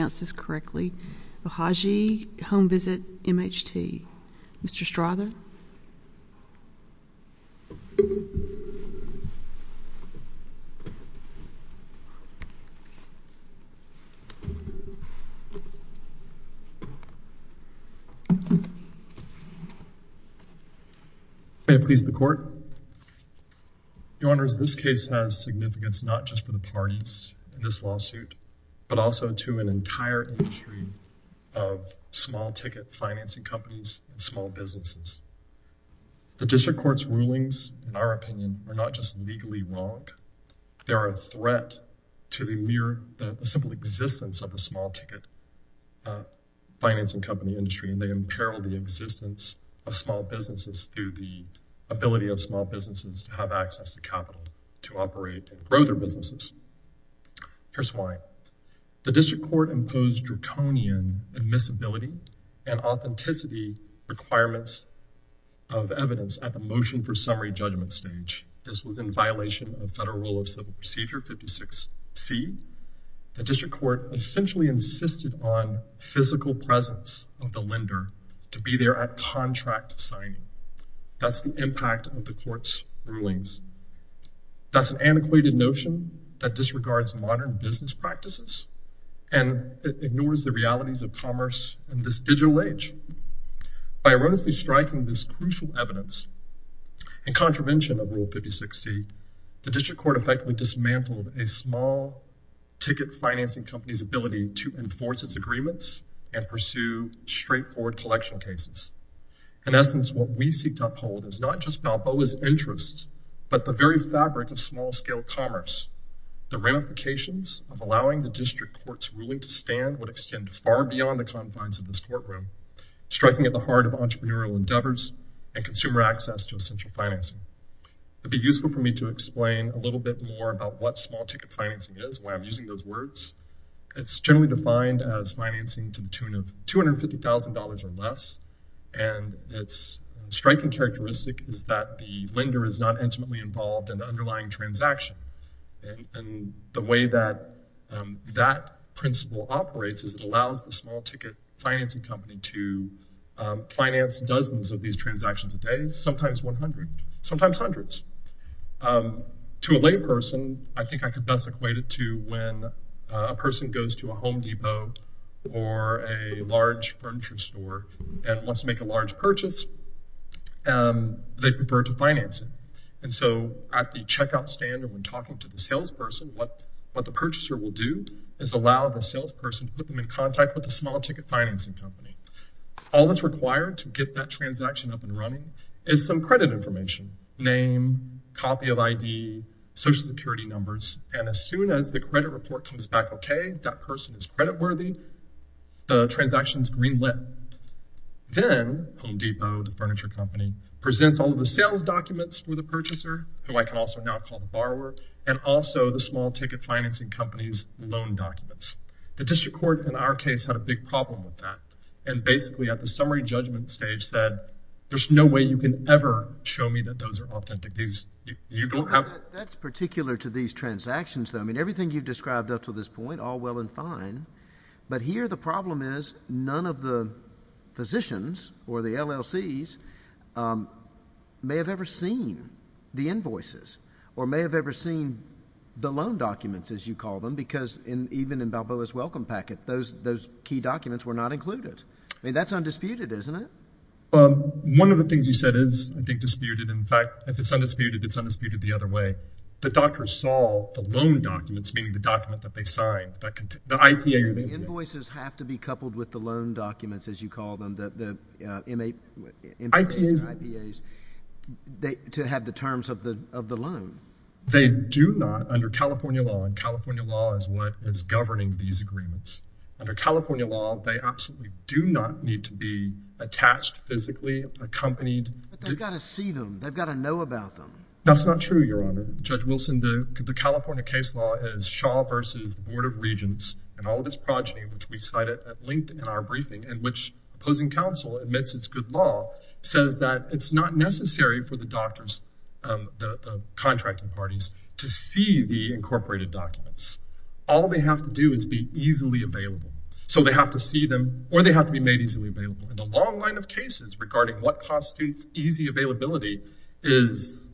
v. M.H.T. Mr. Strother? May it please the Court? Your Honors, this case has significance not just for the parties in this lawsuit, but also to an entire industry of small-ticket financing companies and small businesses. The District Court's rulings, in our opinion, are not just legally wrong, they are a threat to the mere, the simple existence of a small-ticket financing company industry, and they imperil the existence of small businesses through the ability of small businesses to have access to capital to operate and grow their businesses. Here's why. The District Court imposed draconian admissibility and authenticity requirements of evidence at the motion for summary judgment stage. This was in violation of Federal Rule of Civil Procedure 56C. The District Court essentially insisted on physical presence of the lender to be there at contract signing. That's the impact of the Court's rulings. That's an antiquated notion that disregards modern business practices and ignores the realities of commerce in this digital age. By erroneously striking this crucial evidence in contravention of Rule 56C, the District Court effectively dismantled a small-ticket financing company's ability to enforce its agreements and pursue straightforward collection cases. In essence, what we seek to uphold is not just Balboa's interests, but the very fabric of small-scale commerce. The ramifications of allowing the District Court's ruling to stand would extend far beyond the confines of this courtroom, striking at the heart of entrepreneurial endeavors and consumer access to essential financing. It would be useful for me to explain a little bit more about what small-ticket financing is, why I'm using those words. It's generally defined as financing to the tune of $250,000 or less, and its striking characteristic is that the lender is not intimately involved in the underlying transaction. The way that that principle operates is it allows the small-ticket financing company to finance dozens of these transactions a day, sometimes 100, sometimes hundreds. To a layperson, I think I could best equate it to when a person goes to a Home Depot or a large furniture store and wants to make a large purchase, they prefer to finance it. And so at the checkout stand and when talking to the salesperson, what the purchaser will do is allow the salesperson to put them in contact with the small-ticket financing company. All that's required to get that transaction up and running is some credit information, name, copy of ID, Social Security numbers, and as soon as the credit report comes back okay, that person is creditworthy, the transaction is green-lit. Then Home Depot, the furniture company, presents all of the sales documents for the purchaser, who I can also now call the borrower, and also the small-ticket financing company's loan documents. The district court in our case had a big problem with that, and basically at the summary judgment stage said, there's no way you can ever show me that those are authentic. You don't have— That's particular to these transactions, though. I mean, everything you've described up to this point, all well and fine, but here the problem is none of the physicians or the LLCs may have ever seen the invoices or may have never seen the loan documents, as you call them, because even in Balboa's Welcome Packet, those key documents were not included. I mean, that's undisputed, isn't it? One of the things you said is, I think, disputed, in fact, if it's undisputed, it's undisputed the other way. The doctors saw the loan documents, meaning the document that they signed, the IPA or the— The invoices have to be coupled with the loan documents, as you call them, the MAs and IPAs, to have the terms of the loan. They do not, under California law—and California law is what is governing these agreements—under California law, they absolutely do not need to be attached physically, accompanied— But they've got to see them. They've got to know about them. That's not true, Your Honor. Judge Wilson, the California case law is Shaw v. Board of Regents, and all of its progeny, which we cited at length in our briefing, in which opposing counsel admits it's good says that it's not necessary for the doctors, the contracting parties, to see the incorporated documents. All they have to do is be easily available. So they have to see them, or they have to be made easily available, and the long line of cases regarding what constitutes easy availability is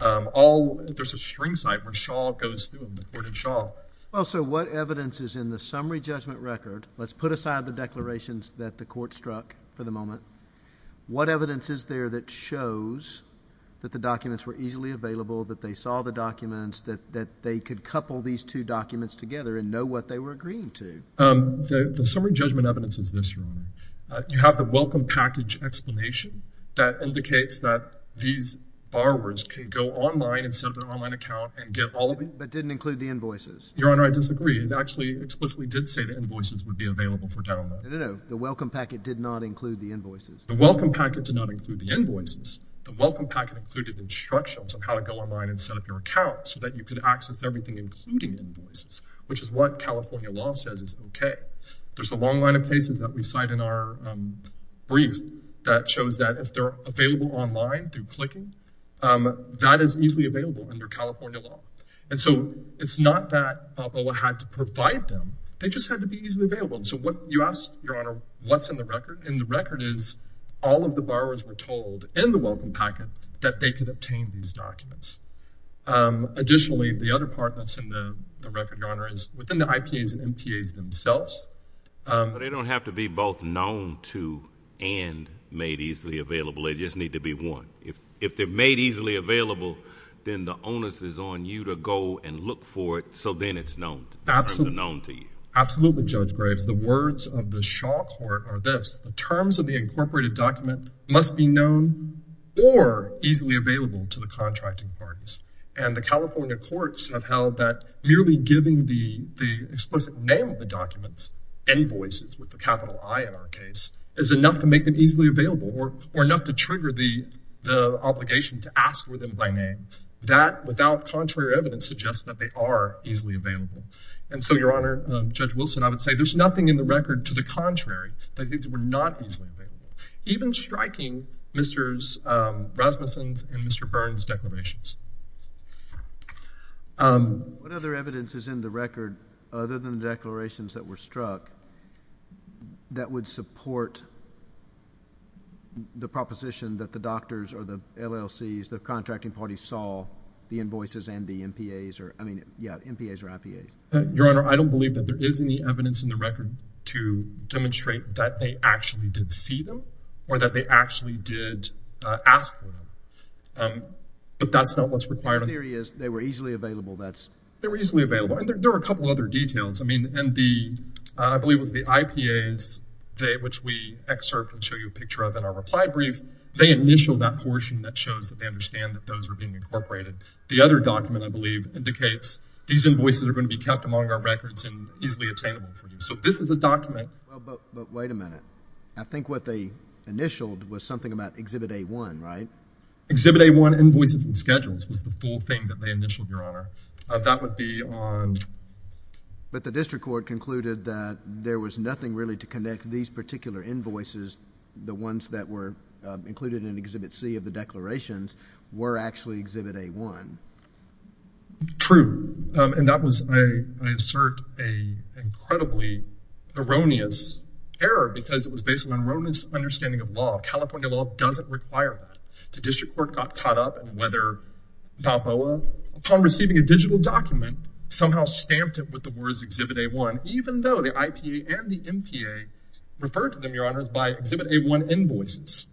all—there's a string site where Shaw goes through them, the court of Shaw. Well, so what evidence is in the summary judgment record—let's put aside the declarations that the court struck for the moment—what evidence is there that shows that the documents were easily available, that they saw the documents, that they could couple these two documents together and know what they were agreeing to? The summary judgment evidence is this, Your Honor. You have the welcome package explanation that indicates that these borrowers can go online and set up an online account and get all of them. But didn't include the invoices. Your Honor, I disagree. It actually explicitly did say the invoices would be available for download. No, no, no. The welcome packet did not include the invoices. The welcome packet did not include the invoices. The welcome packet included instructions on how to go online and set up your account so that you could access everything, including invoices, which is what California law says is okay. There's a long line of cases that we cite in our brief that shows that if they're available online through clicking, that is easily available under California law. And so it's not that BOA had to provide them, they just had to be easily available. So what, you asked, Your Honor, what's in the record, and the record is all of the borrowers were told in the welcome packet that they could obtain these documents. Additionally, the other part that's in the record, Your Honor, is within the IPAs and MPAs themselves. But they don't have to be both known to and made easily available. They just need to be one. If they're made easily available, then the onus is on you to go and look for it so then it's known to you. Absolutely. Absolutely, Judge Graves. The words of the Shaw Court are this, the terms of the incorporated document must be known or easily available to the contracting parties. And the California courts have held that merely giving the explicit name of the documents, invoices with the capital I in our case, is enough to make them easily available or enough to trigger the obligation to ask for them by name. That without contrary evidence suggests that they are easily available. And so, Your Honor, Judge Wilson, I would say there's nothing in the record to the contrary that I think they were not easily available, even striking Mr. Rasmussen's and Mr. Byrne's declarations. What other evidence is in the record, other than the declarations that were struck, that would support the proposition that the doctors or the LLCs, the contracting parties saw the IPAs or IPAs? Your Honor, I don't believe that there is any evidence in the record to demonstrate that they actually did see them or that they actually did ask for them. But that's not what's required. The theory is they were easily available, that's... They were easily available. And there are a couple other details. I mean, and the, I believe it was the IPAs, which we excerpt and show you a picture of in our reply brief, they initial that portion that shows that they understand that those are being incorporated. The other document, I believe, indicates these invoices are going to be kept among our records and easily attainable for you. So this is a document... Well, but wait a minute. I think what they initialed was something about Exhibit A-1, right? Exhibit A-1 invoices and schedules was the full thing that they initialed, Your Honor. That would be on... But the district court concluded that there was nothing really to connect these particular invoices, the ones that were included in Exhibit C of the declarations, were actually Exhibit A-1. True. And that was, I insert, an incredibly erroneous error because it was based on an erroneous understanding of law. California law doesn't require that. The district court got caught up in whether Papoa, upon receiving a digital document, somehow stamped it with the words Exhibit A-1, even though the IPA and the MPA referred to them, Your Honor, by Exhibit A-1 invoices.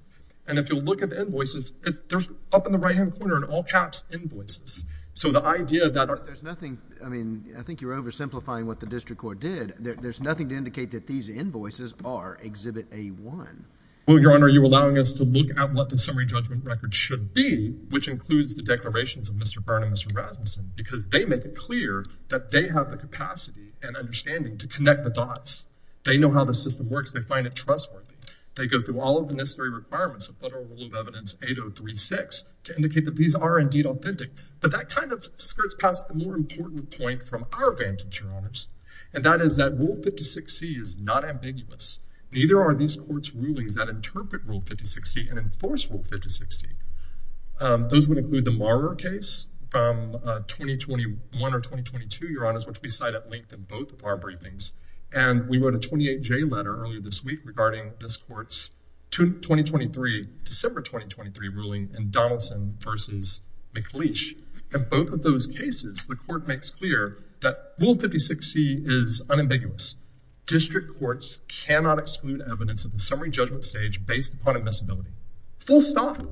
And if you'll look at the invoices, there's up in the right-hand corner in all caps, invoices. So the idea that... There's nothing... I mean, I think you're oversimplifying what the district court did. There's nothing to indicate that these invoices are Exhibit A-1. Well, Your Honor, you're allowing us to look at what the summary judgment record should be, which includes the declarations of Mr. Byrne and Mr. Rasmussen, because they make it clear that they have the capacity and understanding to connect the dots. They know how the system works. They find it trustworthy. They go through all of the necessary requirements of Federal Rule of Evidence 8036 to indicate that these are indeed authentic. But that kind of skirts past the more important point from our vantage, Your Honors, and that is that Rule 56C is not ambiguous. Neither are these court's rulings that interpret Rule 5060 and enforce Rule 5060. Those would include the Maurer case from 2021 or 2022, Your Honors, which we cite at length in both of our briefings. And we wrote a 28J letter earlier this week regarding this court's 2023, December 2023 ruling in Donaldson v. McLeish. In both of those cases, the court makes clear that Rule 56C is unambiguous. District courts cannot exclude evidence at the summary judgment stage based upon admissibility. Full stop.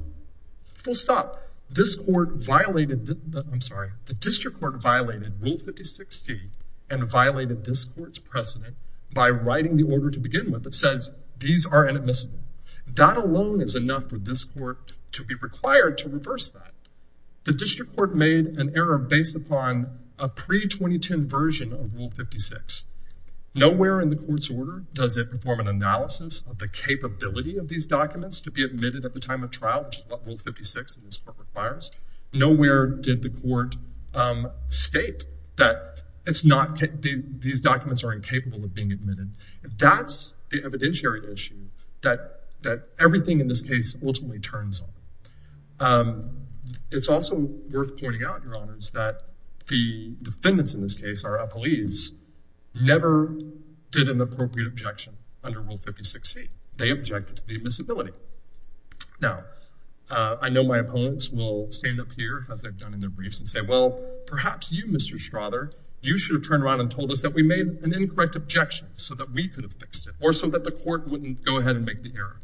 Full stop. This court violated, I'm sorry, the district court violated Rule 5060 and violated this court's precedent by writing the order to begin with that says these are inadmissible. That alone is enough for this court to be required to reverse that. The district court made an error based upon a pre-2010 version of Rule 56. Nowhere in the court's order does it perform an analysis of the capability of these documents to be admitted at the time of trial, which is what Rule 56 in this court requires. Nowhere did the court state that these documents are incapable of being admitted. That's the evidentiary issue that everything in this case ultimately turns on. It's also worth pointing out, Your Honors, that the defendants in this case, our appellees, never did an appropriate objection under Rule 56C. They objected to the admissibility. Now, I know my opponents will stand up here, as they've done in their briefs, and say, well, perhaps you, Mr. Strother, you should have turned around and told us that we made an incorrect objection so that we could have fixed it or so that the court wouldn't go ahead and make the error.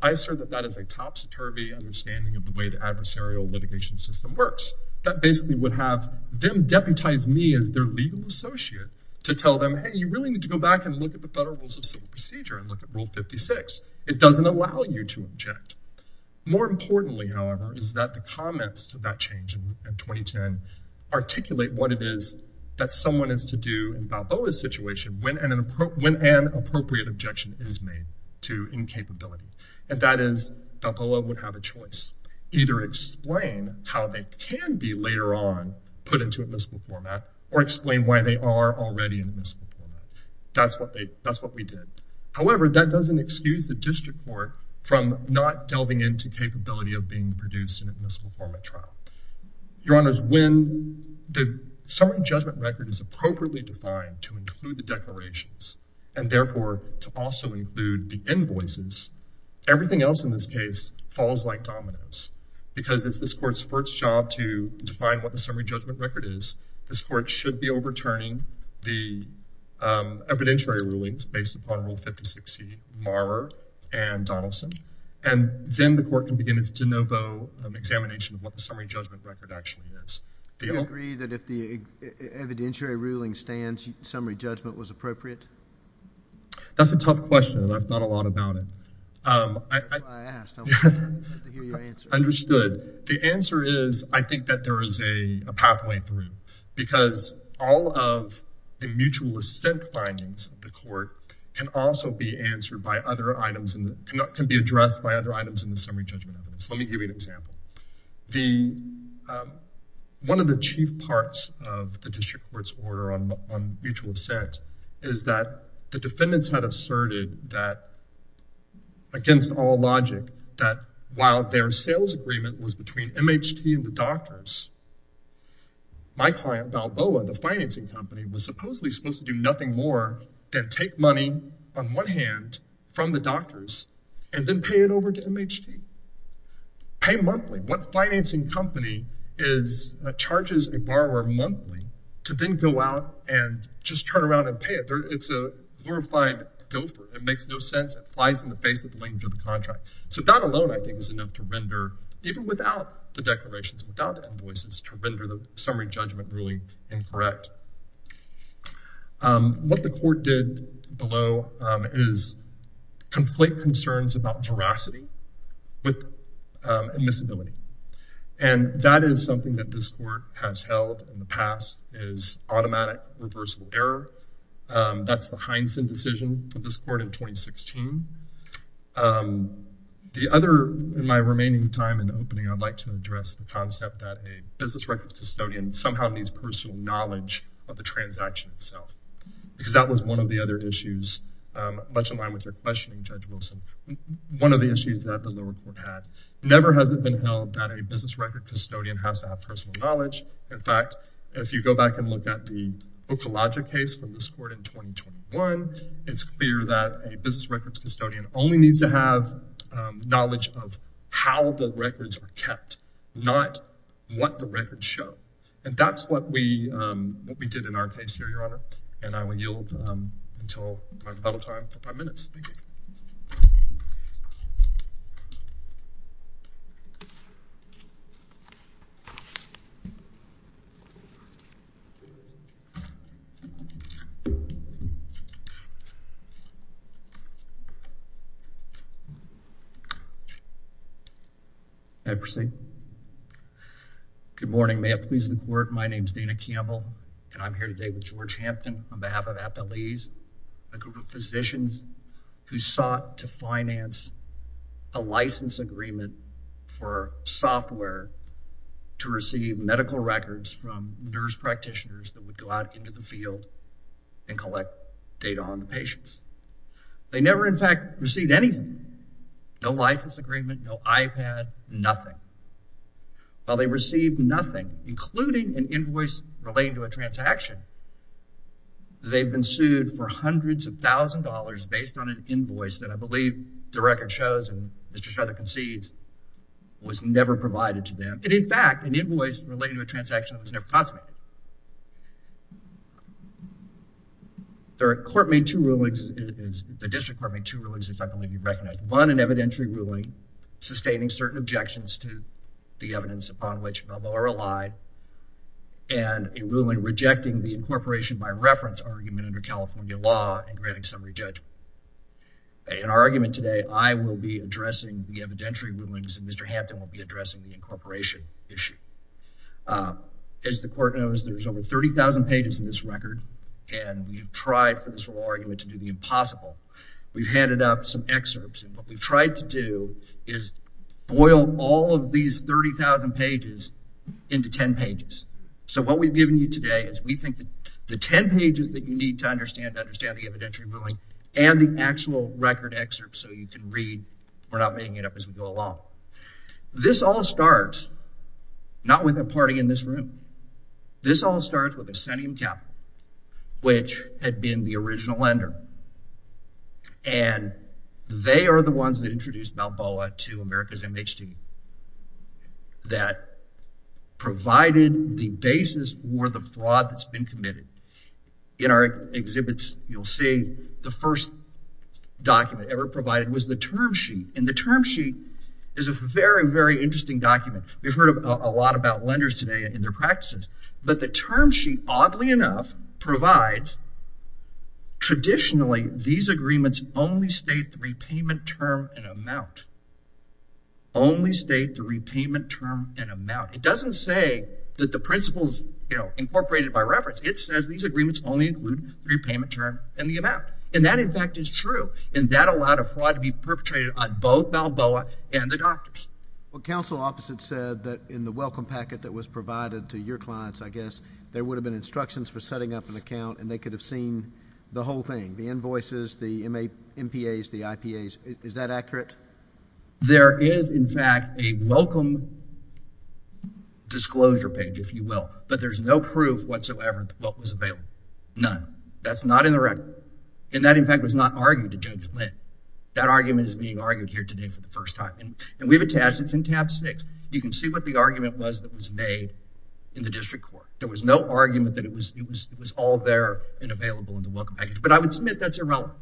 I assert that that is a top satirical understanding of the way the adversarial litigation system works. That basically would have them deputize me as their legal associate to tell them, hey, you really need to go back and look at the Federal Rules of Civil Procedure and look at Rule 56. It doesn't allow you to object. More importantly, however, is that the comments to that change in 2010 articulate what it is that someone is to do in Balboa's situation when an appropriate objection is made to incapability. And that is, Balboa would have a choice. Either explain how they can be later on put into admissible format or explain why they are already in admissible format. That's what we did. However, that doesn't excuse the district court from not delving into capability of being produced in an admissible format trial. Your Honors, when the summary judgment record is appropriately defined to include the declarations and therefore to also include the invoices, everything else in this case falls like dominoes because it's this court's first job to define what the summary judgment record is. This court should be overturning the evidentiary rulings based upon Rule 56C Marr and Donaldson. And then the court can begin its de novo examination of what the summary judgment record actually is. Do you agree that if the evidentiary ruling stands, summary judgment was appropriate? That's a tough question. I've thought a lot about it. That's why I asked. I wanted to hear your answer. Understood. The answer is I think that there is a pathway through because all of the mutual assent findings of the court can also be answered by other items and can be addressed by other items in the summary judgment evidence. Let me give you an example. One of the chief parts of the district court's order on mutual assent is that the defendants had asserted that against all logic, that while their sales agreement was between MHT and the doctors, my client Valboa, the financing company, was supposedly supposed to do nothing more than take money on one hand from the doctors and then pay it over to MHT. Pay monthly. What financing company charges a borrower monthly to then go out and just turn around and pay it? It's a glorified gopher. It makes no sense. It flies in the face of the language of the contract. So that alone, I think, is enough to render, even without the declarations, without the invoices, to render the summary judgment ruling incorrect. What the court did below is conflate concerns about veracity with admissibility. And that is something that this court has held in the past, is automatic reversal error. That's the Heinsen decision for this court in 2016. The other, in my remaining time in the opening, I'd like to address the concept that a business records custodian somehow needs personal knowledge of the transaction itself, because that was one of the other issues, much in line with your questioning, Judge Wilson. One of the issues that the lower court had never has it been held that a business records custodian has to have personal knowledge. In fact, if you go back and look at the Okolodja case from this court in 2021, it's clear that a business records custodian only needs to have knowledge of how the records were kept, not what the records show. And that's what we did in our case here, Your Honor. And I will yield until my final time for five minutes. Thank you. I proceed. Good morning. May it please the court, my name's Dana Campbell, and I'm here today with George Hampton on a case where we sought to finance a license agreement for software to receive medical records from nurse practitioners that would go out into the field and collect data on the patients. They never, in fact, received anything, no license agreement, no iPad, nothing. While they received nothing, including an invoice relating to a transaction, they've been sued for hundreds of thousands of dollars based on an invoice that I believe the record shows and Mr. Shredder concedes was never provided to them. And in fact, an invoice relating to a transaction was never consummated. The court made two rulings, the district court made two rulings, if I can let you recognize. One, an evidentiary ruling sustaining certain objections to the evidence upon which Balboa relied, and a ruling rejecting the incorporation by reference argument under California law and granting summary judgment. In our argument today, I will be addressing the evidentiary rulings and Mr. Hampton will be addressing the incorporation issue. As the court knows, there's over 30,000 pages in this record, and we've tried for this whole argument to do the impossible. We've handed out some excerpts, and what we've tried to do is boil all of these 30,000 pages into 10 pages. So what we've given you today is we think that the 10 pages that you need to understand the evidentiary ruling and the actual record excerpts so you can read, we're not making it up as we go along. This all starts not with a party in this room. This all starts with Accentium Capital, which had been the original lender, and they are the ones that introduced Balboa to America's MHT that provided the basis for the fraud that's been committed. In our exhibits, you'll see the first document ever provided was the term sheet, and the term sheet is a very, very interesting document. We've heard a lot about lenders today and their practices, but the term sheet, oddly enough, provides traditionally these agreements only state the repayment term and amount. Only state the repayment term and amount. It doesn't say that the principles, you know, incorporated by reference. It says these agreements only include repayment term and the amount, and that, in fact, is true, and that allowed a fraud to be perpetrated on both Balboa and the doctors. Well, counsel opposite said that in the welcome packet that was provided to your clients, I guess, there would have been instructions for setting up an account, and they could have seen the whole thing, the invoices, the MPAs, the IPAs. Is that accurate? There is, in fact, a welcome disclosure page, if you will, but there's no proof whatsoever what was available, none. That's not in the record, and that, in fact, was not argued to Judge Lynn. That argument is being argued here today for the first time, and we've attached, it's in tab six. You can see what the argument was that was made in the district court. There was no argument that it was all there and available in the welcome package, but I would submit that's irrelevant.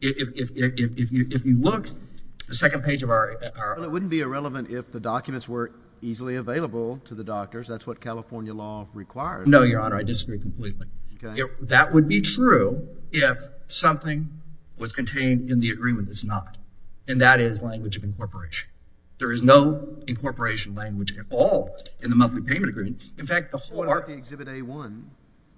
If you look at the second page of our... Well, it wouldn't be irrelevant if the documents were easily available to the doctors. That's what California law requires. No, Your Honor, I disagree completely. That would be true if something was contained in the agreement that's not, and that is language of incorporation. There is no incorporation language at all in the monthly payment agreement. In fact, the whole... What about the Exhibit A-1?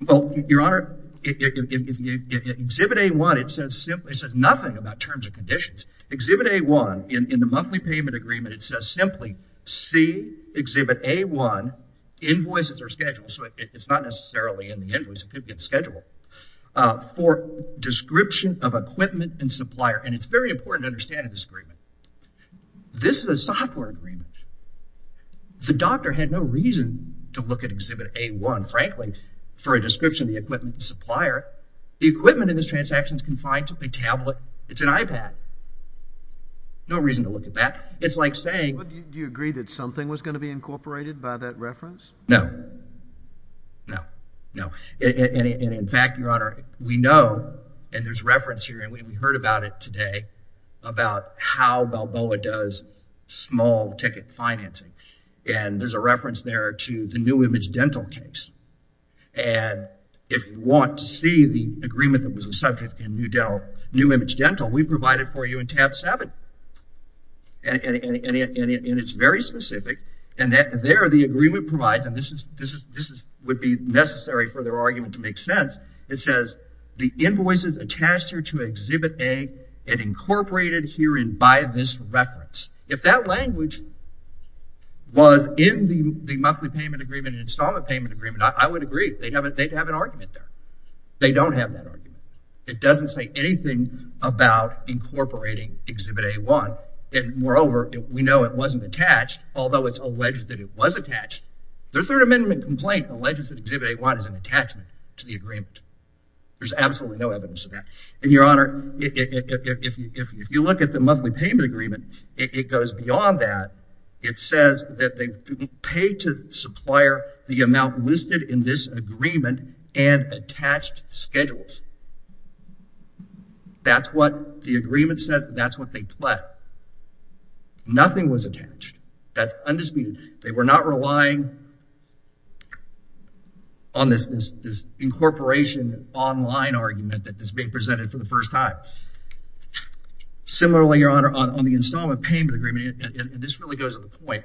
Well, Your Honor, Exhibit A-1, it says nothing about terms and conditions. Exhibit A-1, in the monthly payment agreement, it says simply, see Exhibit A-1, invoices are scheduled, so it's not necessarily in the invoice, it could be in the schedule, for description of equipment and supplier, and it's very important to understand in this is a software agreement. The doctor had no reason to look at Exhibit A-1, frankly, for a description of the equipment and supplier. The equipment in this transaction is confined to a tablet. It's an iPad. No reason to look at that. It's like saying... Do you agree that something was going to be incorporated by that reference? No. No. No. And in fact, Your Honor, we know, and there's reference here, and we heard about it today, about how Balboa does small ticket financing, and there's a reference there to the New Image Dental case, and if you want to see the agreement that was a subject in New Image Dental, we provided for you in tab 7, and it's very specific, and there the agreement provides, and this would be necessary for their argument to make sense, it says the invoices attached here to Exhibit A and incorporated herein by this reference. If that language was in the monthly payment agreement and installment payment agreement, I would agree. They'd have an argument there. They don't have that argument. It doesn't say anything about incorporating Exhibit A-1, and moreover, we know it wasn't attached, although it's alleged that it was attached. Their Third Amendment complaint alleges that Exhibit A-1 is an attachment to the agreement. There's absolutely no evidence of that. And, Your Honor, if you look at the monthly payment agreement, it goes beyond that. It says that they paid to supplier the amount listed in this agreement and attached schedules. That's what the agreement says. That's what they pled. Nothing was attached. That's undisputed. They were not relying on this incorporation online argument that is being presented for the first time. Similarly, Your Honor, on the installment payment agreement, and this really goes to the point,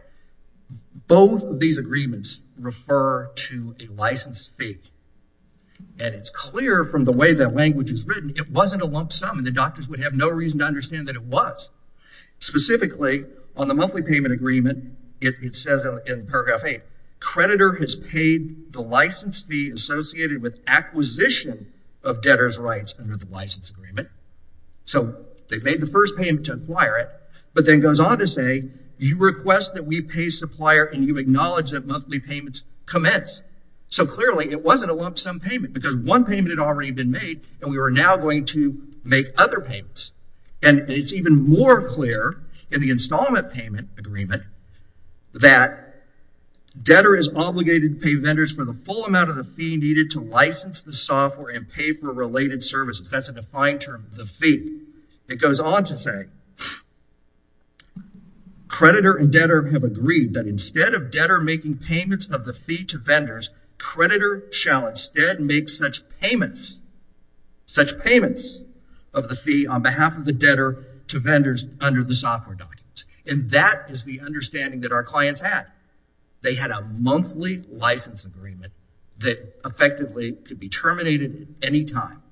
both of these agreements refer to a licensed fee, and it's clear from the way that language is written, it wasn't a lump sum, and the doctors would have no reason to understand that it was. Specifically, on the monthly payment agreement, it says in paragraph 8, creditor has paid the license fee associated with acquisition of debtor's rights under the license agreement. So they've made the first payment to acquire it, but then goes on to say, you request that we pay supplier and you acknowledge that monthly payments commence. So clearly, it wasn't a lump sum payment because one payment had already been made, and we were now going to make other payments. It's even more clear in the installment payment agreement that debtor is obligated to pay vendors for the full amount of the fee needed to license the software and pay for related services. That's a defined term, the fee. It goes on to say, creditor and debtor have agreed that instead of debtor making payments of the fee to vendors, creditor shall instead make such payments, such payments of the fee on behalf of the debtor to vendors under the software documents. And that is the understanding that our clients had. They had a monthly license agreement that effectively could be terminated at any time.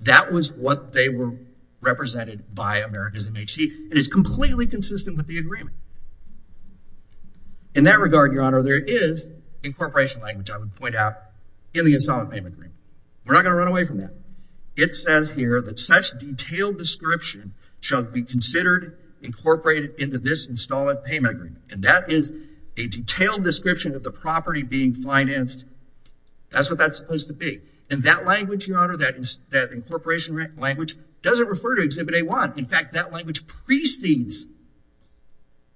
That was what they were represented by America's MHC, and it's completely consistent with the agreement. In that regard, Your Honor, there is incorporation language, I would point out, in the installment payment agreement. We're not going to run away from that. It says here that such detailed description shall be considered incorporated into this installment payment agreement, and that is a detailed description of the property being financed. That's what that's supposed to be, and that language, Your Honor, that incorporation language doesn't refer to Exhibit A-1. In fact, that language precedes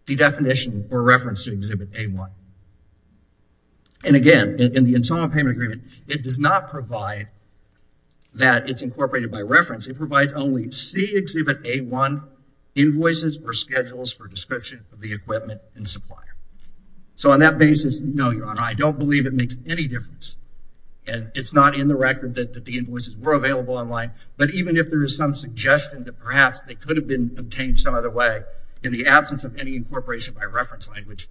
the definition or reference to Exhibit A-1. And again, in the installment payment agreement, it does not provide that it's incorporated by reference. It provides only C Exhibit A-1 invoices or schedules for description of the equipment and supplier. So, on that basis, no, Your Honor, I don't believe it makes any difference, and it's not in the record that the invoices were available online, but even if there is some suggestion that perhaps they could have been obtained some other way in the absence of any incorporation by reference language,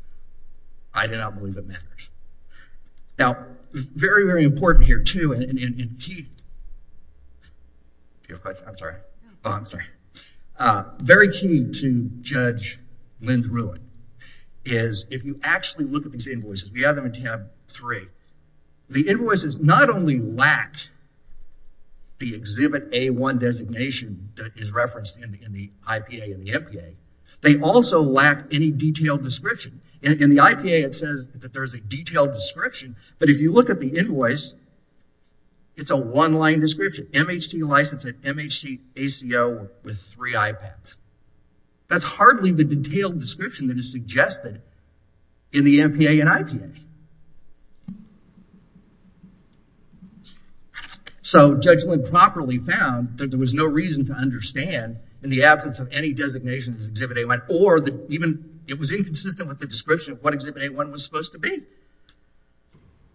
I do not believe it matters. Now, very, very important here, too, and key, if you have a question, I'm sorry, I'm sorry. Very key to Judge Lynn's ruling is, if you actually look at these invoices, we have them in tab three, the invoices not only lack the Exhibit A-1 designation that is referenced in the IPA and the MPA, they also lack any detailed description. In the IPA, it says that there's a detailed description, but if you look at the invoice, it's a one-line description, MHT license and MHT ACO with three iPads. That's hardly the detailed description that is suggested in the MPA and IPA. So, Judge Lynn properly found that there was no reason to understand, in the absence of any designations, Exhibit A-1, or that even it was inconsistent with the description of what Exhibit A-1 was supposed to be.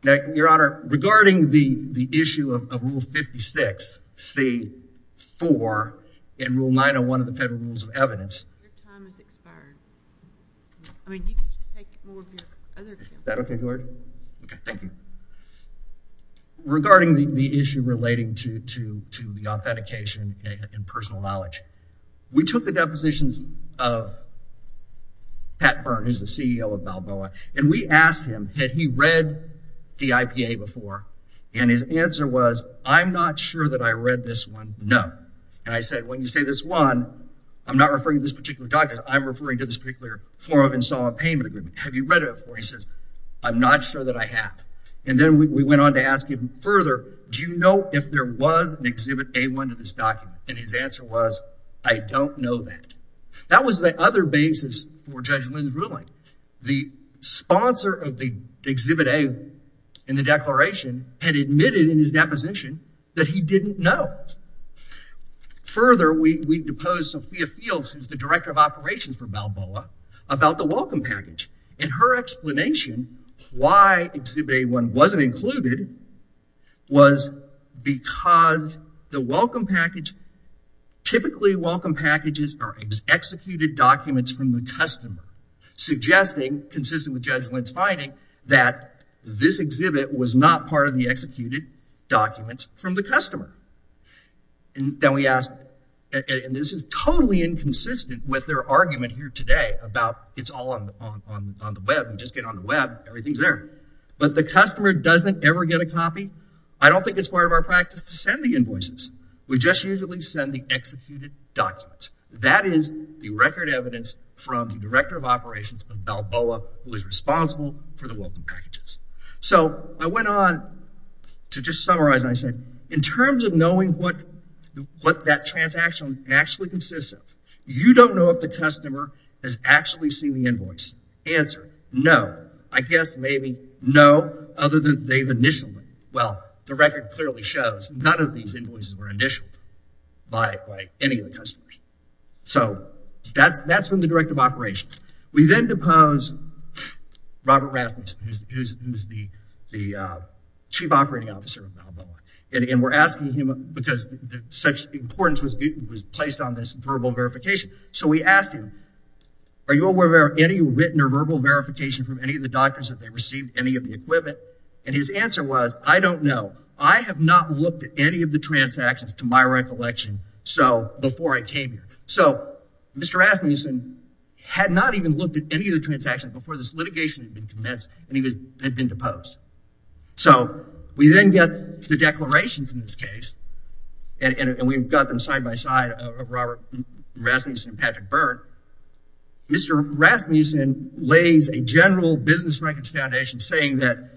Now, Your Honor, regarding the issue of Rule 56C-4 in Rule 901 of the Federal Rules of Okay, thank you. Regarding the issue relating to the authentication and personal knowledge, we took the depositions of Pat Byrne, who's the CEO of Balboa, and we asked him, had he read the IPA before? And his answer was, I'm not sure that I read this one, no. And I said, when you say this one, I'm not referring to this particular document, I'm referring to this particular form of installment payment agreement. Have you read it before? And he says, I'm not sure that I have. And then we went on to ask him further, do you know if there was an Exhibit A-1 in this document? And his answer was, I don't know that. That was the other basis for Judge Lynn's ruling. The sponsor of the Exhibit A-1 in the declaration had admitted in his deposition that he didn't know. Further, we deposed Sophia Fields, who's the Director of Operations for Balboa, about the welcome package. And her explanation why Exhibit A-1 wasn't included was because the welcome package, typically welcome packages are executed documents from the customer, suggesting, consistent with Judge Lynn's finding, that this exhibit was not part of the executed documents from the customer. And then we asked, and this is totally inconsistent with their argument here today about it's all on the web. We just get on the web, everything's there. But the customer doesn't ever get a copy. I don't think it's part of our practice to send the invoices. We just usually send the executed documents. That is the record evidence from the Director of Operations of Balboa, who is responsible for the welcome packages. So I went on to just summarize and I said, in terms of knowing what that transaction was actually consistent, you don't know if the customer has actually seen the invoice. Answer, no. I guess maybe no, other than they've initialed it. Well, the record clearly shows none of these invoices were initialed by any of the customers. So that's from the Director of Operations. We then deposed Robert Rasmussen, who's the Chief Operating Officer of Balboa. And we're asking him because such importance was placed on this verbal verification. So we asked him, are you aware of any written or verbal verification from any of the doctors that they received any of the equipment? And his answer was, I don't know. I have not looked at any of the transactions to my recollection before I came here. So Mr. Rasmussen had not even looked at any of the transactions before this litigation had been commenced and had been deposed. So we then get the declarations in this case. And we've got them side by side of Robert Rasmussen and Patrick Byrne. Mr. Rasmussen lays a general business records foundation saying that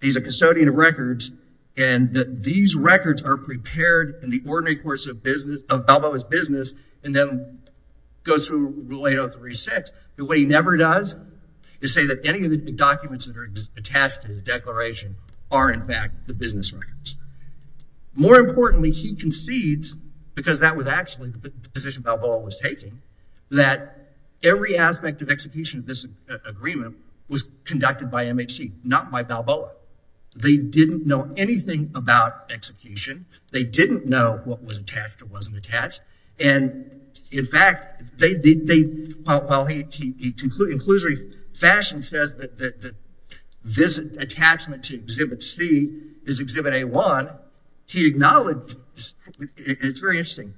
he's a custodian of records and that these records are prepared in the ordinary course of Balboa's business and then goes through Rule 803.6. What he never does is say that any of the documents that are attached to his declaration are in fact the business records. More importantly, he concedes, because that was actually the position Balboa was taking, that every aspect of execution of this agreement was conducted by MHC, not by Balboa. They didn't know anything about execution. They didn't know what was attached or wasn't attached. And in fact, while he conclusively fashion says that the visit attachment to Exhibit C is Exhibit A1, he acknowledged, and it's very interesting,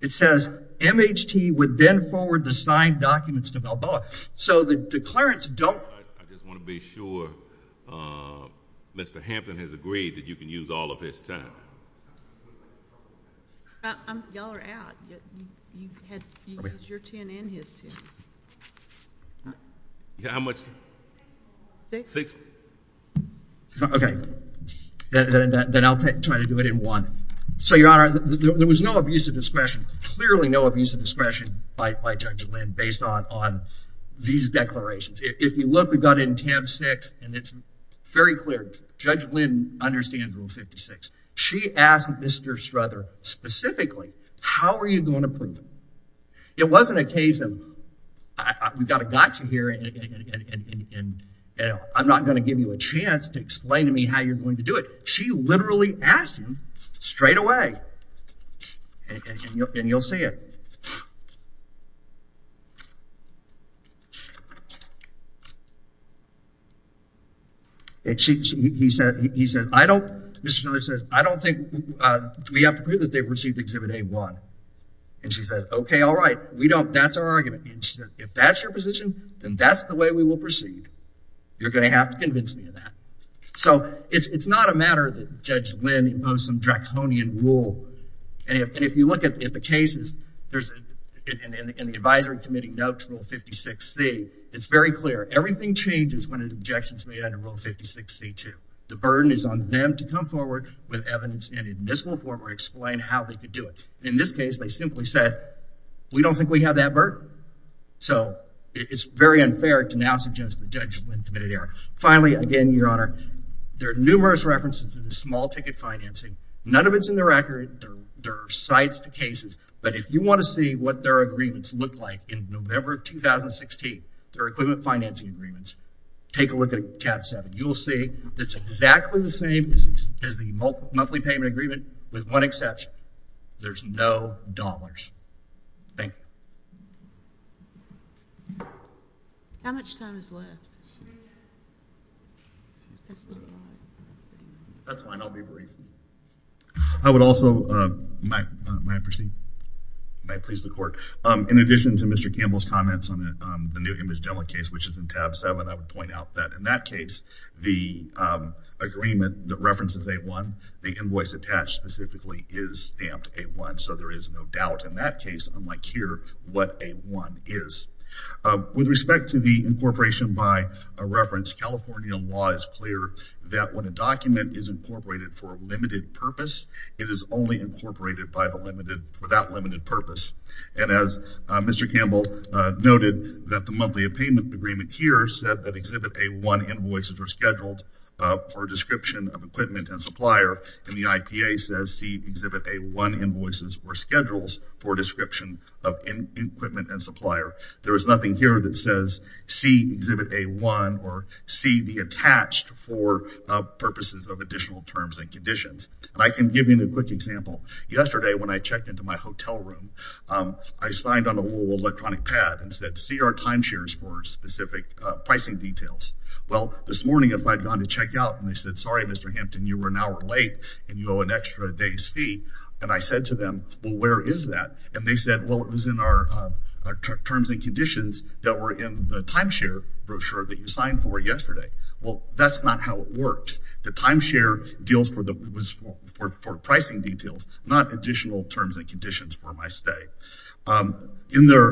it says MHT would then forward the signed documents to Balboa. So the declarants don't. I just want to be sure. Mr. Hampton has agreed that you can use all of his time. Y'all are out. You had your 10 and his 10. How much? Six. Okay. Then I'll try to do it in one. So, Your Honor, there was no abuse of discretion. Clearly no abuse of discretion by Judge Lynn based on these declarations. If you look, we've got it in tab 6, and it's very clear. Judge Lynn understands Rule 56. She asked Mr. Struther specifically, how are you going to prove it? It wasn't a case of, we've got a gotcha here, and I'm not going to give you a chance to explain to me how you're going to do it. She literally asked him straight away, and you'll see it. He said, I don't, Mr. Struther says, I don't think we have to prove that they've received Exhibit A1. And she said, okay, all right. We don't, that's our argument. And she said, if that's your position, then that's the way we will proceed. You're going to have to convince me of that. So it's not a matter that Judge Lynn imposed some draconian rule. And if you look at the cases, there's, in the advisory committee notes, Rule 56C, it's very clear. Everything changes when an objection is made under Rule 56C2. The burden is on them to come forward with evidence and in this reformer explain how they could do it. In this case, they simply said, we don't think we have that burden. So it's very unfair to now suggest that Judge Lynn committed error. Finally, again, Your Honor, there are numerous references to the small ticket financing. None of it's in the record. There are sites to cases. But if you want to see what their agreements look like in November of 2016, their equipment financing agreements, take a look at tab 7. You'll see it's exactly the same as the monthly payment agreement with one exception. There's no dollars. Thank you. How much time is left? That's fine. I'll be brief. I would also, may I proceed? May I please the court? In addition to Mr. Campbell's comments on the new image demo case, which is in tab 7, I would point out that in that case, the agreement that references A1, the invoice attached specifically is stamped A1. So there is no doubt in that case, unlike here, what A1 is. With respect to the incorporation by a reference, California law is clear that when a document is incorporated for a limited purpose, it is only incorporated for that limited purpose. And as Mr. Campbell noted, that the monthly payment agreement here said that Exhibit A1 invoices were scheduled for description of equipment and supplier, and the IPA says see Exhibit A1 invoices were scheduled for description of equipment and supplier. There is nothing here that says see Exhibit A1 or see the attached for purposes of additional terms and conditions. And I can give you a quick example. Yesterday, when I checked into my hotel room, I signed on a little electronic pad and said, see our timeshares for specific pricing details. Well, this morning, if I'd gone to check out and they said, sorry, Mr. Hampton, you were an hour late and you owe an extra day's fee. And I said to them, well, where is that? And they said, well, it was in our terms and conditions that were in the timeshare brochure that you signed for yesterday. Well, that's not how it works. The timeshare deals for the pricing details, not additional terms and conditions for my stay. In their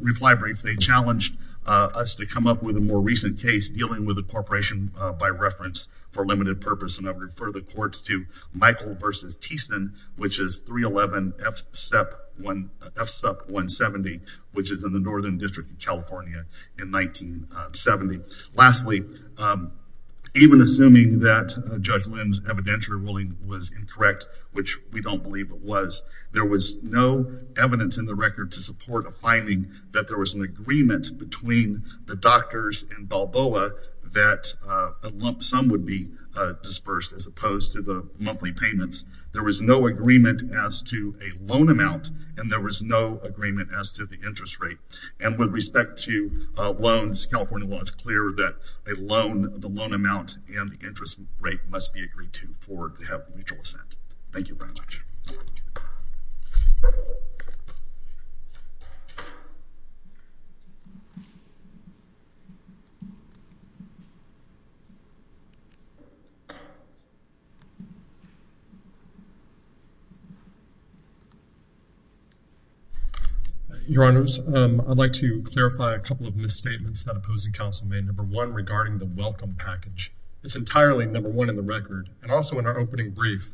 reply brief, they challenged us to come up with a more recent case dealing with a corporation by reference for limited purpose. And I refer the courts to Michael v. Thiessen, which is 311 FSEP 170, which is in the Northern District of California in 1970. Lastly, even assuming that Judge Lynn's evidentiary ruling was incorrect, which we don't believe it was, there was no evidence in the record to support a finding that there was an agreement between the doctors and Balboa that a lump sum would be dispersed as opposed to the monthly payments. There was no agreement as to a loan amount and there was no agreement as to the interest rate. And with respect to loans, California law, it's clear that a loan, the loan amount and the interest rate must be agreed to for to have a mutual assent. Thank you very much. Your Honors, I'd like to clarify a couple of misstatements that opposing counsel made, number one, regarding the welcome package. It's entirely number one in the record. And also in our opening brief,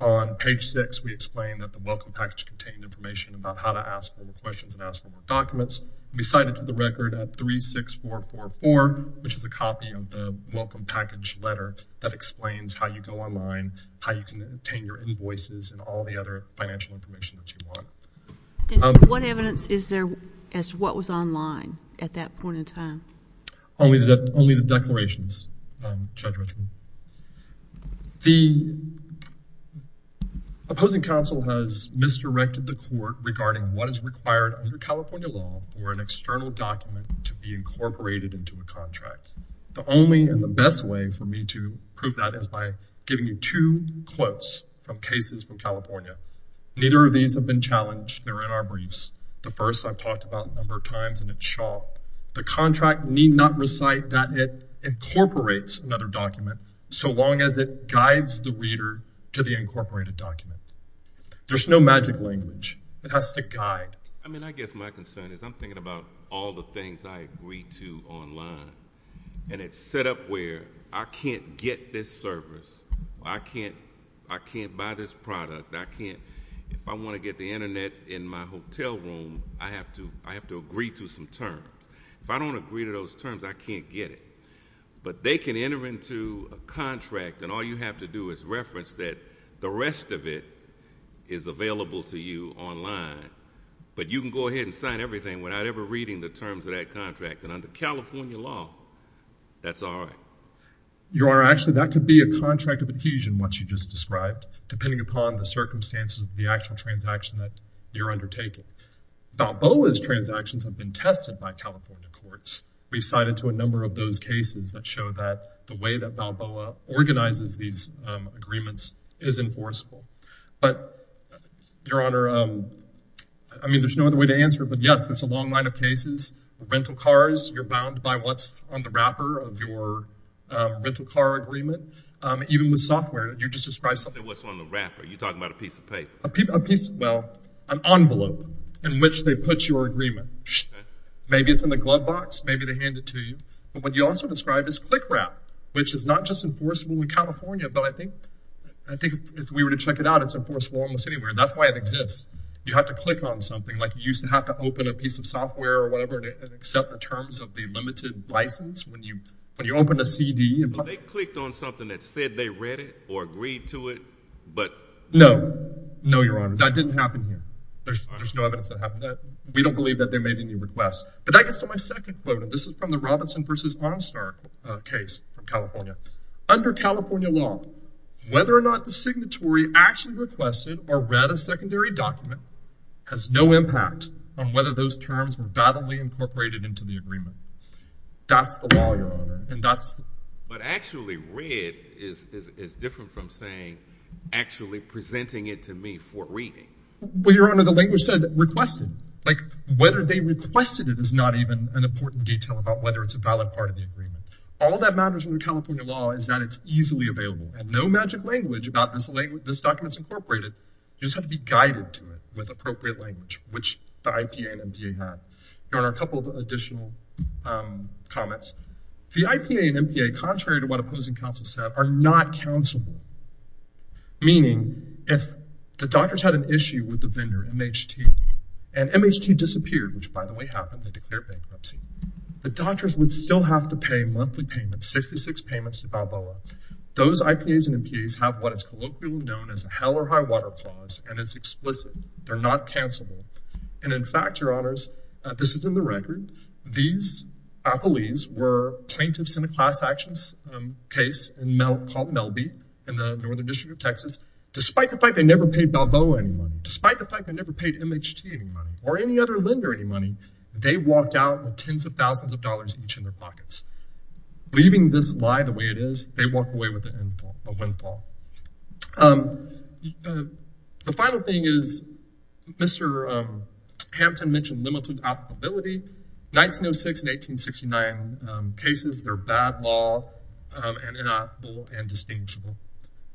on page six, we explain that the welcome package contained information about how to ask for the questions and ask for more documents. We cite it to the record at 36444, which is a copy of the welcome package letter that explains how you go online, how you can obtain your invoices and all the other financial information that you want. And what evidence is there as to what was online at that point in time? Only the declarations, Judge Richmond. The opposing counsel has misdirected the court regarding what is required under California law for an external document to be incorporated into a contract. The only and the best way for me to prove that is by giving you two quotes from cases from California. Neither of these have been challenged. They're in our briefs. The first I've talked about a number of times and it's sharp. The contract need not recite that it incorporates another document so long as it guides the reader to the incorporated document. There's no magic language. It has to guide. I mean, I guess my concern is I'm thinking about all the things I agree to online. And it's set up where I can't get this service. I can't buy this product. If I want to get the Internet in my hotel room, I have to agree to some terms. If I don't agree to those terms, I can't get it. But they can enter into a contract and all you have to do is reference that the rest of it is available to you online. But you can go ahead and sign everything without ever reading the terms of that contract. And under California law, that's all right. Actually, that could be a contract of adhesion, what you just described, depending upon the circumstances of the actual transaction that you're undertaking. Balboa's transactions have been tested by California courts. We've cited to a number of those cases that show that the way that Balboa organizes these agreements is enforceable. But, Your Honor, I mean, there's no other way to answer it. But, yes, there's a long line of cases. Rental cars, you're bound by what's on the wrapper of your rental car agreement. Even with software, you just describe something. What's on the wrapper? Are you talking about a piece of paper? Well, an envelope in which they put your agreement. Maybe it's in the glove box. Maybe they hand it to you. But what you also described is click wrap, which is not just enforceable in California. But I think if we were to check it out, it's enforceable almost anywhere. That's why it exists. You have to click on something. Like you used to have to open a piece of software or whatever to accept the terms of the limited license when you open a CD. But they clicked on something that said they read it or agreed to it. No. No, Your Honor. That didn't happen here. There's no evidence that happened there. We don't believe that they made any requests. But that gets to my second quote, and this is from the Robinson v. Onstar case from California. Under California law, whether or not the signatory actually requested or read a secondary document has no impact on whether those terms were validly incorporated into the agreement. That's the law, Your Honor. But actually read is different from saying actually presenting it to me for reading. Well, Your Honor, the language said requested. Like whether they requested it is not even an important detail about whether it's a valid part of the agreement. All that matters under California law is that it's easily available. And no magic language about this document's incorporated. You just have to be guided to it with appropriate language, which the IPA and NPA have. Your Honor, a couple of additional comments. The IPA and NPA, contrary to what opposing counsel said, are not counselable. Meaning if the doctors had an issue with the vendor, MHT, and MHT disappeared, which by the way happened, they declared bankruptcy, the doctors would still have to pay monthly payments, 66 payments to Balboa. Those IPAs and NPAs have what is colloquially known as a hell or high water clause, and it's explicit. They're not counselable. And in fact, Your Honors, this is in the record. These appellees were plaintiffs in a class actions case called Melby in the Northern District of Texas. Despite the fact they never paid Balboa any money, despite the fact they never paid MHT any money or any other lender any money, they walked out with tens of thousands of dollars each in their pockets. Leaving this lie the way it is, they walk away with a windfall. The final thing is Mr. Hampton mentioned limited applicability. 1906 and 1869 cases, they're bad law and inapplicable and distinguishable.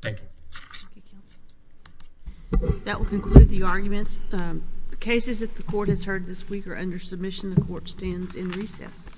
Thank you. Thank you, counsel. That will conclude the arguments. The cases that the court has heard this week are under submission. The court stands in recess. Thank you.